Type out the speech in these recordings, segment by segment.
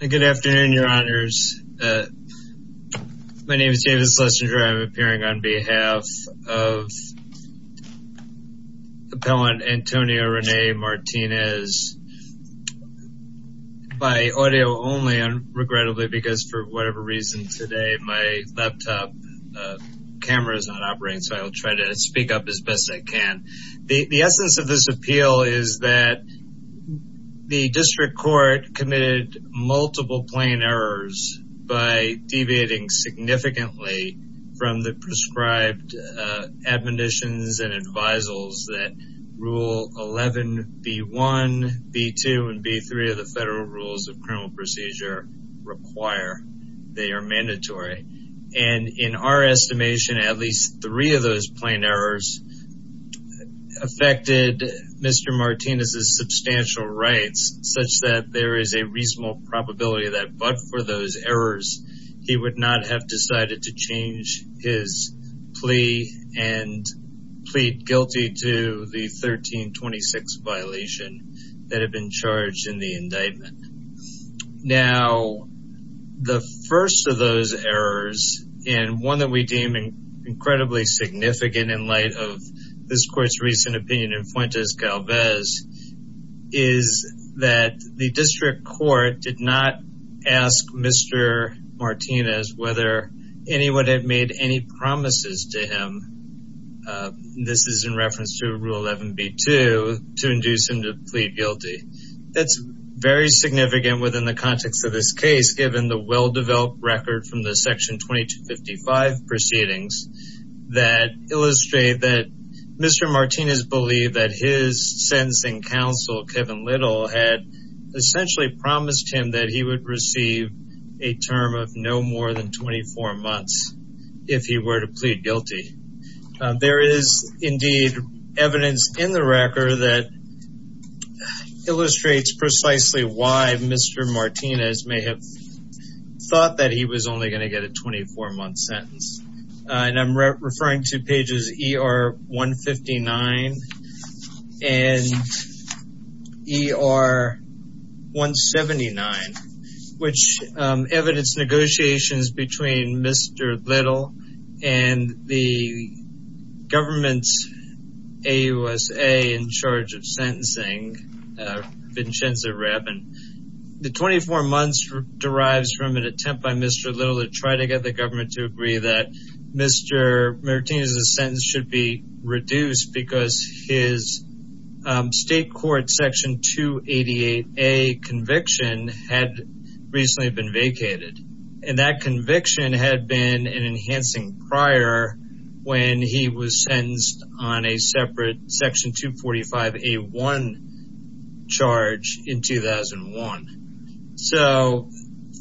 Good afternoon, your honors. My name is David Schlesinger. I'm appearing on behalf of Appellant Antonio Rene Martinez. By audio only, regrettably, because for whatever reason today, my laptop camera is not operating. So I'll try to speak up as best I can. The essence of this appeal is that the district court committed multiple plain errors by deviating significantly from the prescribed admonitions and advisals that Rule 11B1, B2, and B3 of the Federal Rules of Criminal Procedure require. They are mandatory. And in our estimation, at least three of those plain errors affected Mr. Martinez's substantial rights, such that there is a reasonable probability that but for those errors, he would not have decided to change his plea and plead guilty to the 1326 violation that had been charged in the indictment. Now, the first of those errors, and one that we deem incredibly significant in light of this court's recent opinion in Fuentes-Galvez, is that the district court did not ask Mr. Martinez whether anyone had made any promises to him. This is in reference to Rule 11B2, to induce him to plead guilty. That's very significant within the context of this case, given the well-developed record from the Section 2255 proceedings that illustrate that Mr. Martinez believed that his sentencing counsel, Kevin Little, had essentially promised him that he would receive a term of no more than 24 months if he were to plead guilty. There is, indeed, evidence in the record that illustrates precisely why Mr. Martinez may have thought that he was only going to get a 24-month sentence. I'm referring to pages ER-159 and ER-179, which evidence negotiations between Mr. Little and the government's AUSA in charge of sentencing, Vincenzo Rabin. The 24 months derives from an attempt by Mr. Little to try to get the government to agree that Mr. Martinez's sentence should be reduced because his state court Section 288A conviction had recently been vacated. And that conviction had been an enhancing prior when he was sentenced on a separate Section 245A1 charge in 2001. So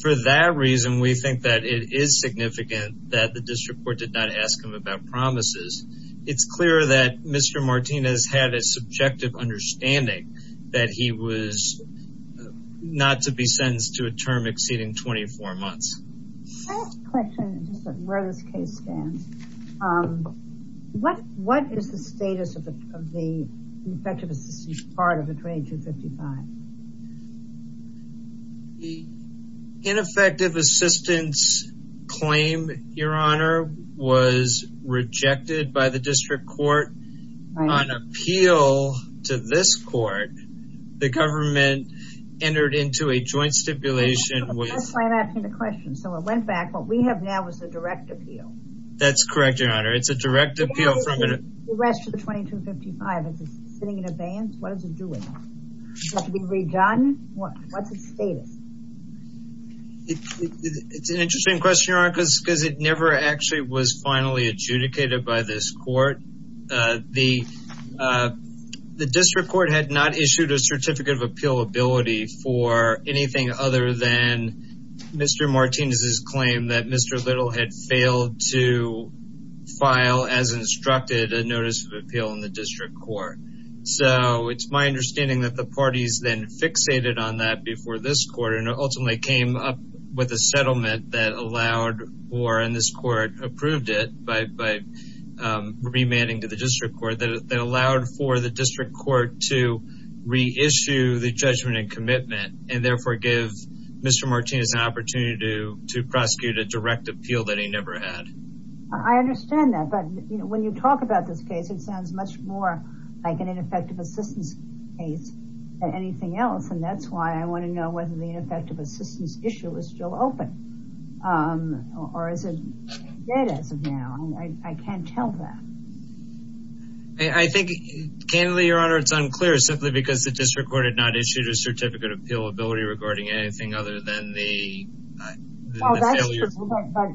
for that reason, we think that it is significant that the district court did not ask him about promises. It's clear that Mr. Martinez had a subjective understanding that he was not to be sentenced to a term exceeding 24 months. What is the status of the ineffective assistance part of the 2255? The ineffective assistance claim, Your Honor, was rejected by the district court on appeal to this court. The government entered into a joint stipulation with... I'm asking the question. So it went back. What we have now is a direct appeal. That's correct, Your Honor. It's a direct appeal from... The rest of the 2255, is it sitting in abeyance? What is it doing? Is it being redone? What's its status? It's an interesting question, Your Honor, because it never actually was finally adjudicated by this court. The district court had not issued a certificate of appealability for anything other than Mr. Martinez's claim that Mr. Little had failed to file, as instructed, a notice of appeal in the district court. So, it's my understanding that the parties then fixated on that before this court and ultimately came up with a settlement that allowed for, and this court approved it by remanding to the district court, that allowed for the district court to reissue the judgment and commitment and therefore give Mr. Martinez an opportunity to prosecute a direct appeal that he never had. I understand that, but when you talk about this case, it sounds much more like an ineffective assistance case than anything else. And that's why I want to know whether the ineffective assistance issue is still open. Or is it dead as of now? I can't tell that. I think, candidly, Your Honor, it's unclear simply because the district court had not issued a certificate of appealability regarding anything other than the failure...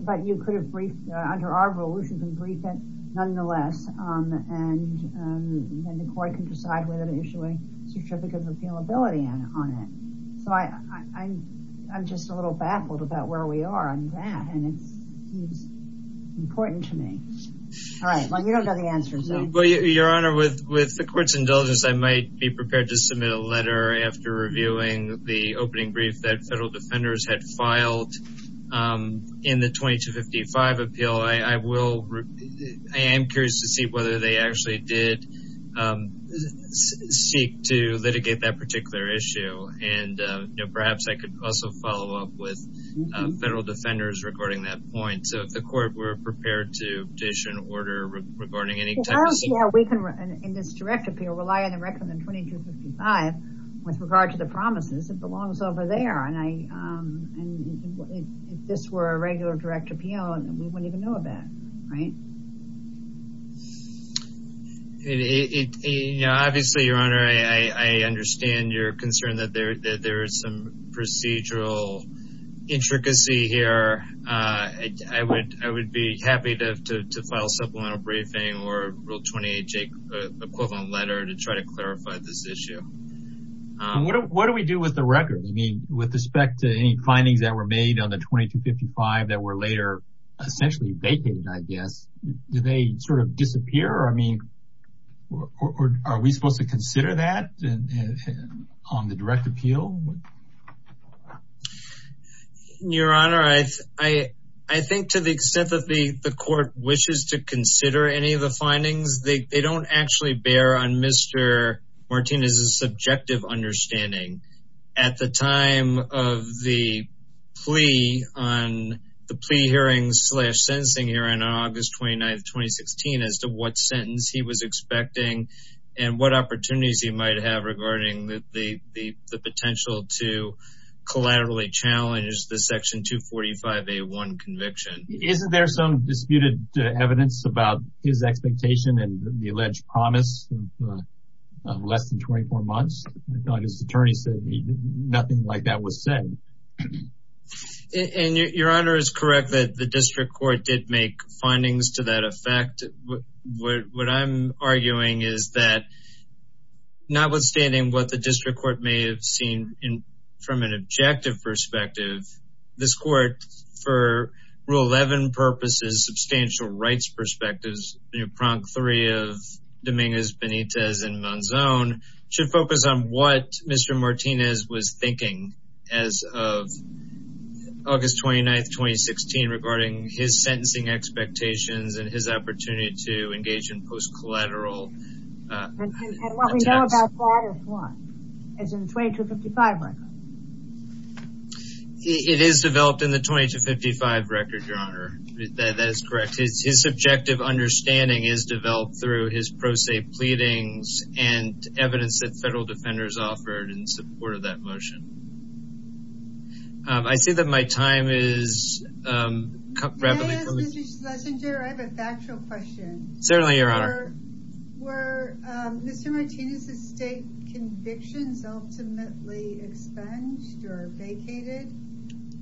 But you could have briefed, under our rules, you can brief it nonetheless, and the court can decide whether to issue a certificate of appealability on it. So, I'm just a little baffled about where we are on that, and it seems important to me. All right, well, you don't know the answer, so... Well, Your Honor, with the court's indulgence, I might be prepared to submit a letter after reviewing the opening brief that federal defenders had filed in the 2255 appeal. I am curious to see whether they actually did seek to litigate that particular issue, and perhaps I could also follow up with federal defenders regarding that point. So, if the court were prepared to issue an order regarding any type of... Well, we can, in this direct appeal, rely on the record of the 2255 with regard to the promises. It belongs over there, and if this were a regular direct appeal, we wouldn't even know about it, right? Obviously, Your Honor, I understand your concern that there is some procedural intricacy here. I would be happy to file a supplemental briefing or a Rule 28 Jake equivalent letter to try to clarify this issue. What do we do with the record? I mean, with respect to any findings that were made on the 2255 that were later essentially vacated, I guess, do they sort of disappear? I mean, are we supposed to consider that on the direct appeal? Your Honor, I think to the extent that the court wishes to consider any of the findings, they don't actually bear on Mr. Martinez's subjective understanding. Isn't there some disputed evidence about his expectation and the alleged promise of less than 24 months? I thought his attorney said nothing like that was said. Your Honor is correct that the district court did make findings to that effect. What I'm arguing is that notwithstanding what the district court may have seen from an objective perspective, this court for Rule 11 purposes, substantial rights perspectives, new prong three of Dominguez Benitez and Monzone should focus on what Mr. Martinez was thinking as of August 29th, 2016, regarding his sentencing expectations and his opportunity to engage in post collateral. It is developed in the 2255 record, Your Honor. That is correct. His subjective understanding is developed through his pro se pleadings and evidence that federal defenders offered in support of that motion. I see that my time is up. Can I ask Mr. Schlesinger, I have a factual question. Certainly, Your Honor. Were Mr. Martinez's state convictions ultimately expunged or vacated?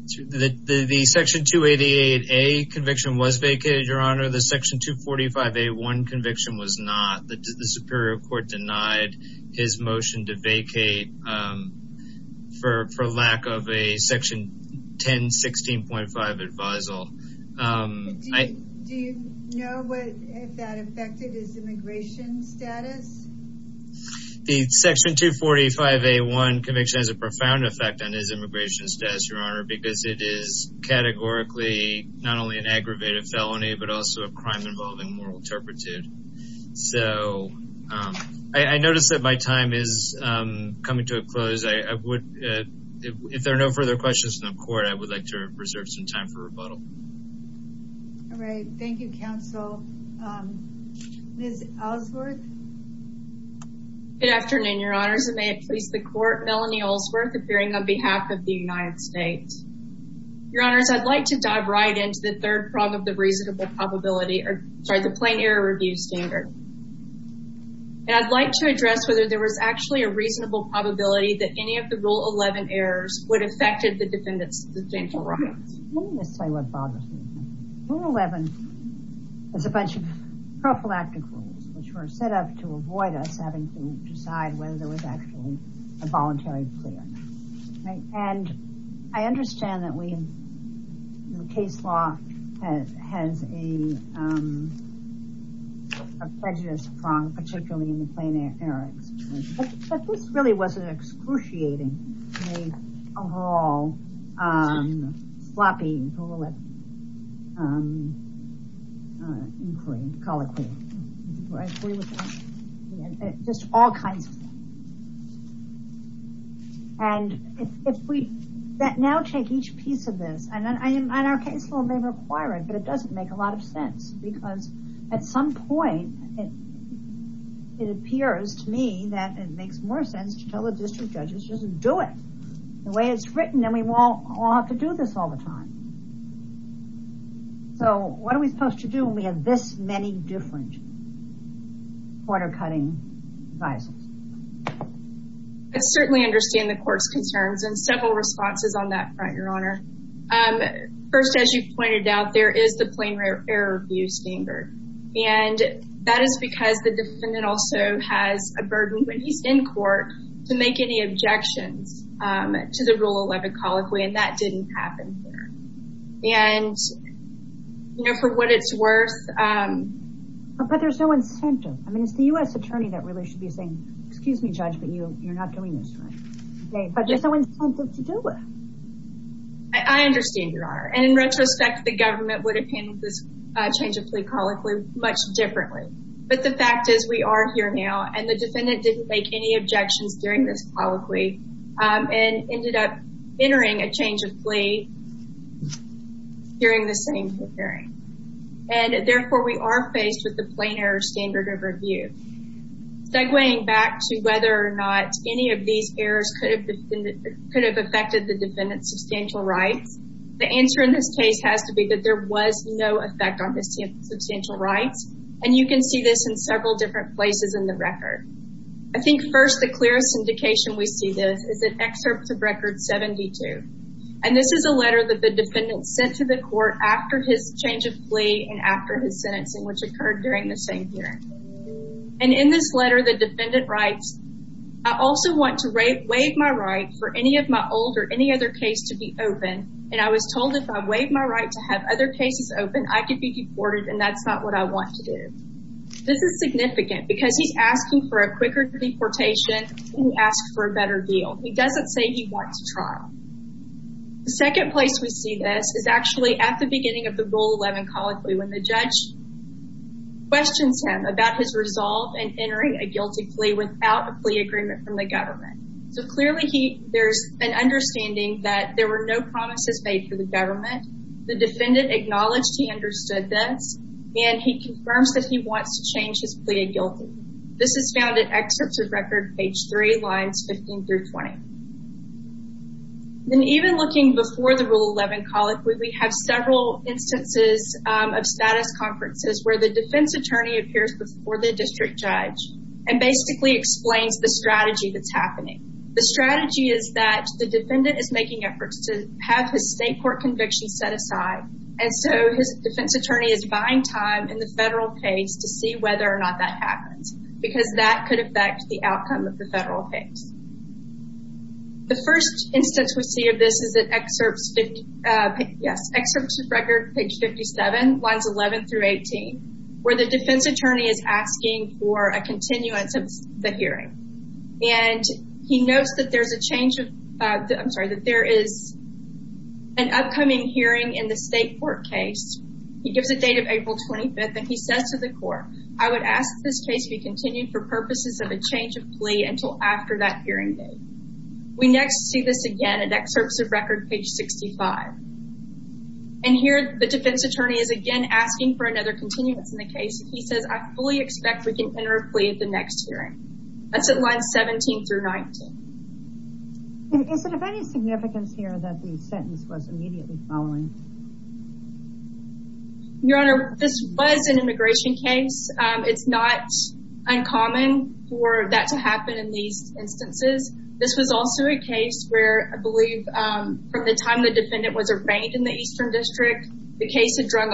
The Section 288A conviction was vacated, Your Honor. The Section 245A1 conviction was not. The Superior Court denied his motion to vacate for lack of a Section 1016.5 advisal. Do you know if that affected his immigration status? The Section 245A1 conviction has a profound effect on his immigration status, Your Honor, because it is categorically not only an aggravated felony, but also a crime involving moral turpitude. So, I notice that my time is coming to a close. If there are no further questions from the court, I would like to reserve some time for rebuttal. All right. Thank you, counsel. Ms. Ellsworth. Good afternoon, Your Honors, and may it please the court, Melanie Ellsworth, appearing on behalf of the United States. Your Honors, I'd like to dive right into the third problem of the reasonable probability, sorry, the Plain Error Review Standard. And I'd like to address whether there was actually a reasonable probability that any of the Rule 11 errors would have affected the defendants' substantial rights. Let me just say what bothers me. Rule 11 is a bunch of prophylactic rules which were set up to avoid us having to decide whether there was actually a voluntary clear. And I understand that case law has a prejudiced prong, particularly in the Plain Error. But this really wasn't excruciating. And if we now take each piece of this, and our case law may require it, but it doesn't make a lot of sense, because at some point, it appears to me that it makes more sense to tell the district judges, just do it the way it's written, and we won't have to do this all the time. So what are we supposed to do when we have this many different quarter-cutting devices? I certainly understand the court's concerns, and several responses on that front, Your Honor. First, as you pointed out, there is the Plain Error review standard. And that is because the defendant also has a burden when he's in court to make any objections to the Rule 11 colloquy, and that didn't happen here. And, you know, for what it's worth... But there's no incentive. I mean, it's the U.S. Attorney that really should be saying, excuse me, Judge, but you're not doing this right. But there's no incentive to do it. I understand, Your Honor. And in retrospect, the government would have handled this change of plea colloquy much differently. But the fact is, we are here now, and the defendant didn't make any objections during this colloquy, and ended up entering a change of plea during the same hearing. And therefore, we are faced with the Plain Error standard of review. Segwaying back to whether or not any of these errors could have affected the defendant's substantial rights, the answer in this case has to be that there was no effect on his substantial rights. And you can see this in several different places in the record. I think, first, the clearest indication we see this is in Excerpt of Record 72. And this is a letter that the defendant sent to the court after his change of plea and after his sentencing, which occurred during the same hearing. And in this letter, the defendant writes, This is significant, because he's asking for a quicker deportation, and he asked for a better deal. He doesn't say he wants trial. The second place we see this is actually at the beginning of the Rule 11 colloquy, when the judge questions him about his resolve in entering a guilty plea without a plea agreement from the government. So clearly, there's an understanding that there were no promises made for the government. The defendant acknowledged he understood this, and he confirms that he wants to change his plea of guilty. This is found in Excerpts of Record, page 3, lines 15 through 20. And even looking before the Rule 11 colloquy, we have several instances of status conferences where the defense attorney appears before the district judge and basically explains the strategy that's happening. The strategy is that the defendant is making efforts to have his state court conviction set aside, and so his defense attorney is buying time in the federal case to see whether or not that happens, because that could affect the outcome of the federal case. The first instance we see of this is at Excerpts of Record, page 57, lines 11 through 18, where the defense attorney is asking for a continuance of the hearing. And he notes that there is an upcoming hearing in the state court case. He gives a date of April 25th, and he says to the court, I would ask that this case be continued for purposes of a change of plea until after that hearing date. We next see this again at Excerpts of Record, page 65. And here, the defense attorney is again asking for another continuance in the case. He says, I fully expect we can enter a plea at the next hearing. That's at lines 17 through 19. Your Honor, this was an immigration case. It's not uncommon for that to happen in these instances. This was also a case where, I believe, from the time the defendant was arraigned in the Eastern District, the case had drug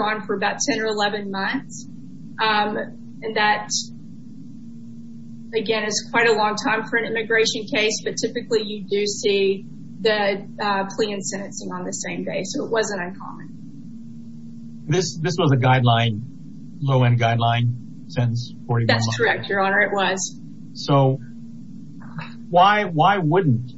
on for about 10 or 11 months. And that, again, is quite a long time for an immigration case. But typically, you do see the plea and sentencing on the same day. So it wasn't uncommon. This was a guideline, low-end guideline, since 41 months? That's correct, Your Honor. It was. So why wouldn't?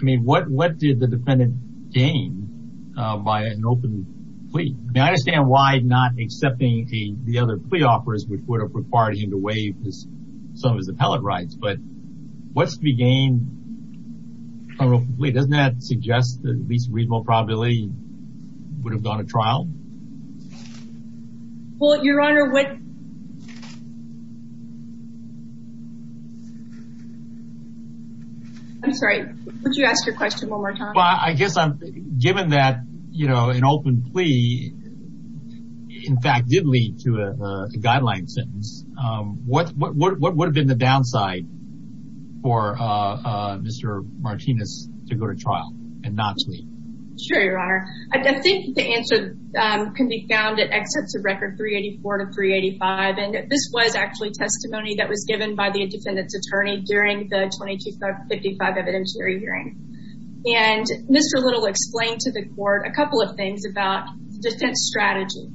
I mean, what did the defendant gain by an open plea? I mean, I understand why not accepting the other plea offers, which would have required him to waive some of his appellate rights. But what's to be gained from an open plea? Doesn't that suggest that at least reasonable probability he would have gone to trial? Well, Your Honor, what… I'm sorry. Would you ask your question one more time? Well, I guess given that an open plea, in fact, did lead to a guideline sentence, what would have been the downside for Mr. Martinez to go to trial and not to leave? Sure, Your Honor. I think the answer can be found at Excerpts of Record 384 to 385. And this was actually testimony that was given by the defendant's attorney during the 2255 evidentiary hearing. And Mr. Little explained to the court a couple of things about defense strategy.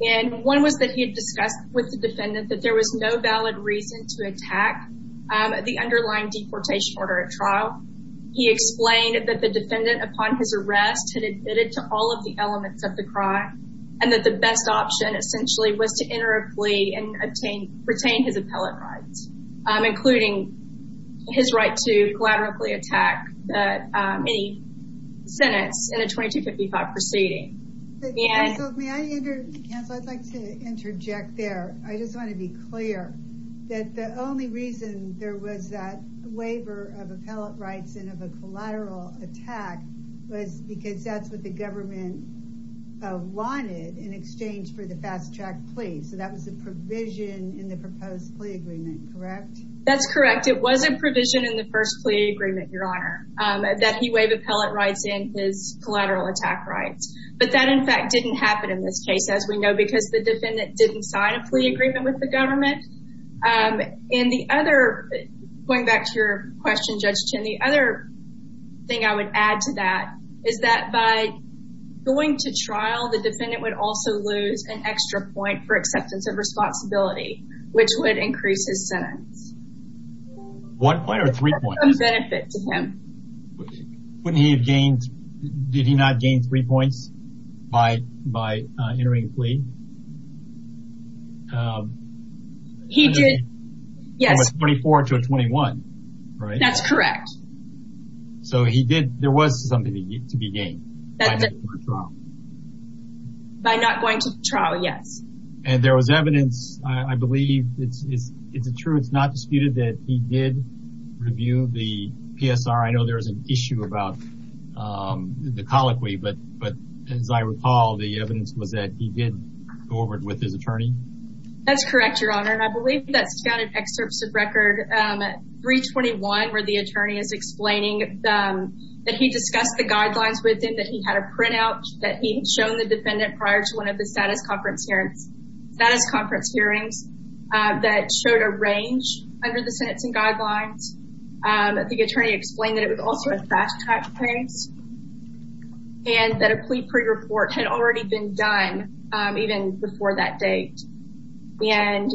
And one was that he had discussed with the defendant that there was no valid reason to attack the underlying deportation order at trial. He explained that the defendant upon his arrest had admitted to all of the elements of the crime and that the best option essentially was to enter a plea and retain his appellate rights, including his right to collaboratively attack any sentence in a 2255 proceeding. Counsel, may I interject? Counsel, I'd like to interject there. I just want to be clear that the only reason there was that waiver of appellate rights and of a collateral attack was because that's what the government wanted in exchange for the fast-track plea. So that was a provision in the proposed plea agreement, correct? That's correct. It was a provision in the first plea agreement, Your Honor, that he waived appellate rights and his collateral attack rights. But that, in fact, didn't happen in this case, as we know, because the defendant didn't sign a plea agreement with the government. And the other, going back to your question, Judge Chin, the other thing I would add to that is that by going to trial, the defendant would also lose an extra point for acceptance of responsibility, which would increase his sentence. One point or three points? A benefit to him. Wouldn't he have gained, did he not gain three points by entering a plea? He did, yes. From a 24 to a 21, right? That's correct. So he did, there was something to be gained by not going to trial. By not going to trial, yes. And there was evidence, I believe, it's true, it's not disputed, that he did review the PSR. I know there's an issue about the colloquy, but as I recall, the evidence was that he did go over it with his attorney. That's correct, Your Honor, and I believe that's found in excerpts of record 321, where the attorney is explaining that he discussed the guidelines with him, that he had a printout, that he had shown the defendant prior to one of the status conference hearings, that showed a range under the sentencing guidelines. I think the attorney explained that it was also a fast-track case, and that a plea pre-report had already been done even before that date, and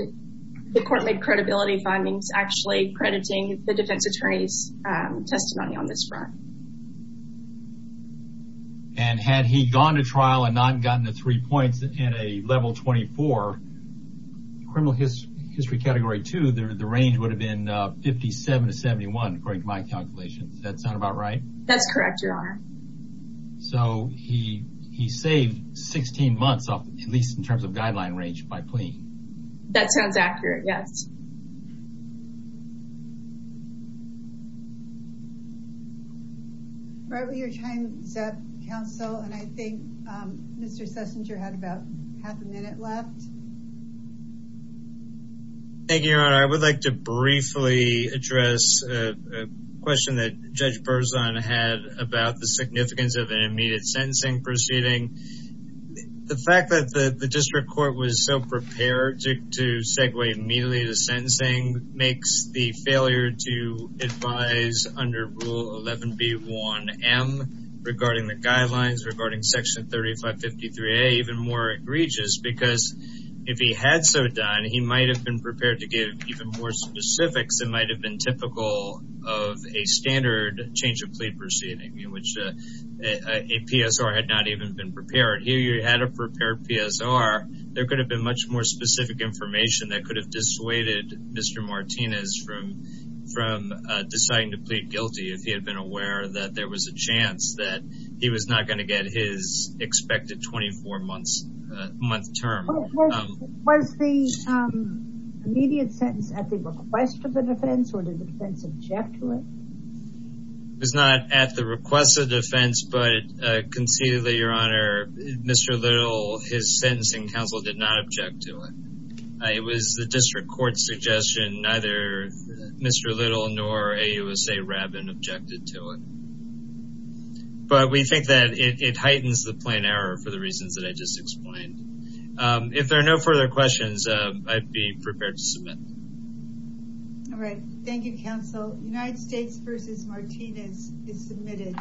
the court made credibility findings actually crediting the defense attorney's testimony on this front. And had he gone to trial and not gotten the three points in a level 24 criminal history category 2, the range would have been 57 to 71, according to my calculations. Does that sound about right? That's correct, Your Honor. So he saved 16 months, at least in terms of guideline range, by plea. That sounds accurate, yes. All right, we are time is up, counsel, and I think Mr. Sessinger had about half a minute left. Thank you, Your Honor. I would like to briefly address a question that Judge Berzon had about the significance of an immediate sentencing proceeding. The fact that the district court was so prepared to segue immediately to sentencing makes the failure to advise under Rule 11B1M regarding the guidelines, regarding Section 3553A, even more egregious, because if he had so done, he might have been prepared to give even more specifics. It might have been typical of a standard change of plea proceeding, in which a PSR had not even been prepared. If he had a prepared PSR, there could have been much more specific information that could have dissuaded Mr. Martinez from deciding to plead guilty if he had been aware that there was a chance that he was not going to get his expected 24-month term. Was the immediate sentence at the request of the defense, or did the defense object to it? It was not at the request of the defense, but conceivably, Your Honor, Mr. Little, his sentencing counsel did not object to it. It was the district court's suggestion. Neither Mr. Little nor AUSA Rabbin objected to it. But we think that it heightens the plain error for the reasons that I just explained. If there are no further questions, I'd be prepared to submit. All right. Thank you, counsel. United States v. Martinez is submitted.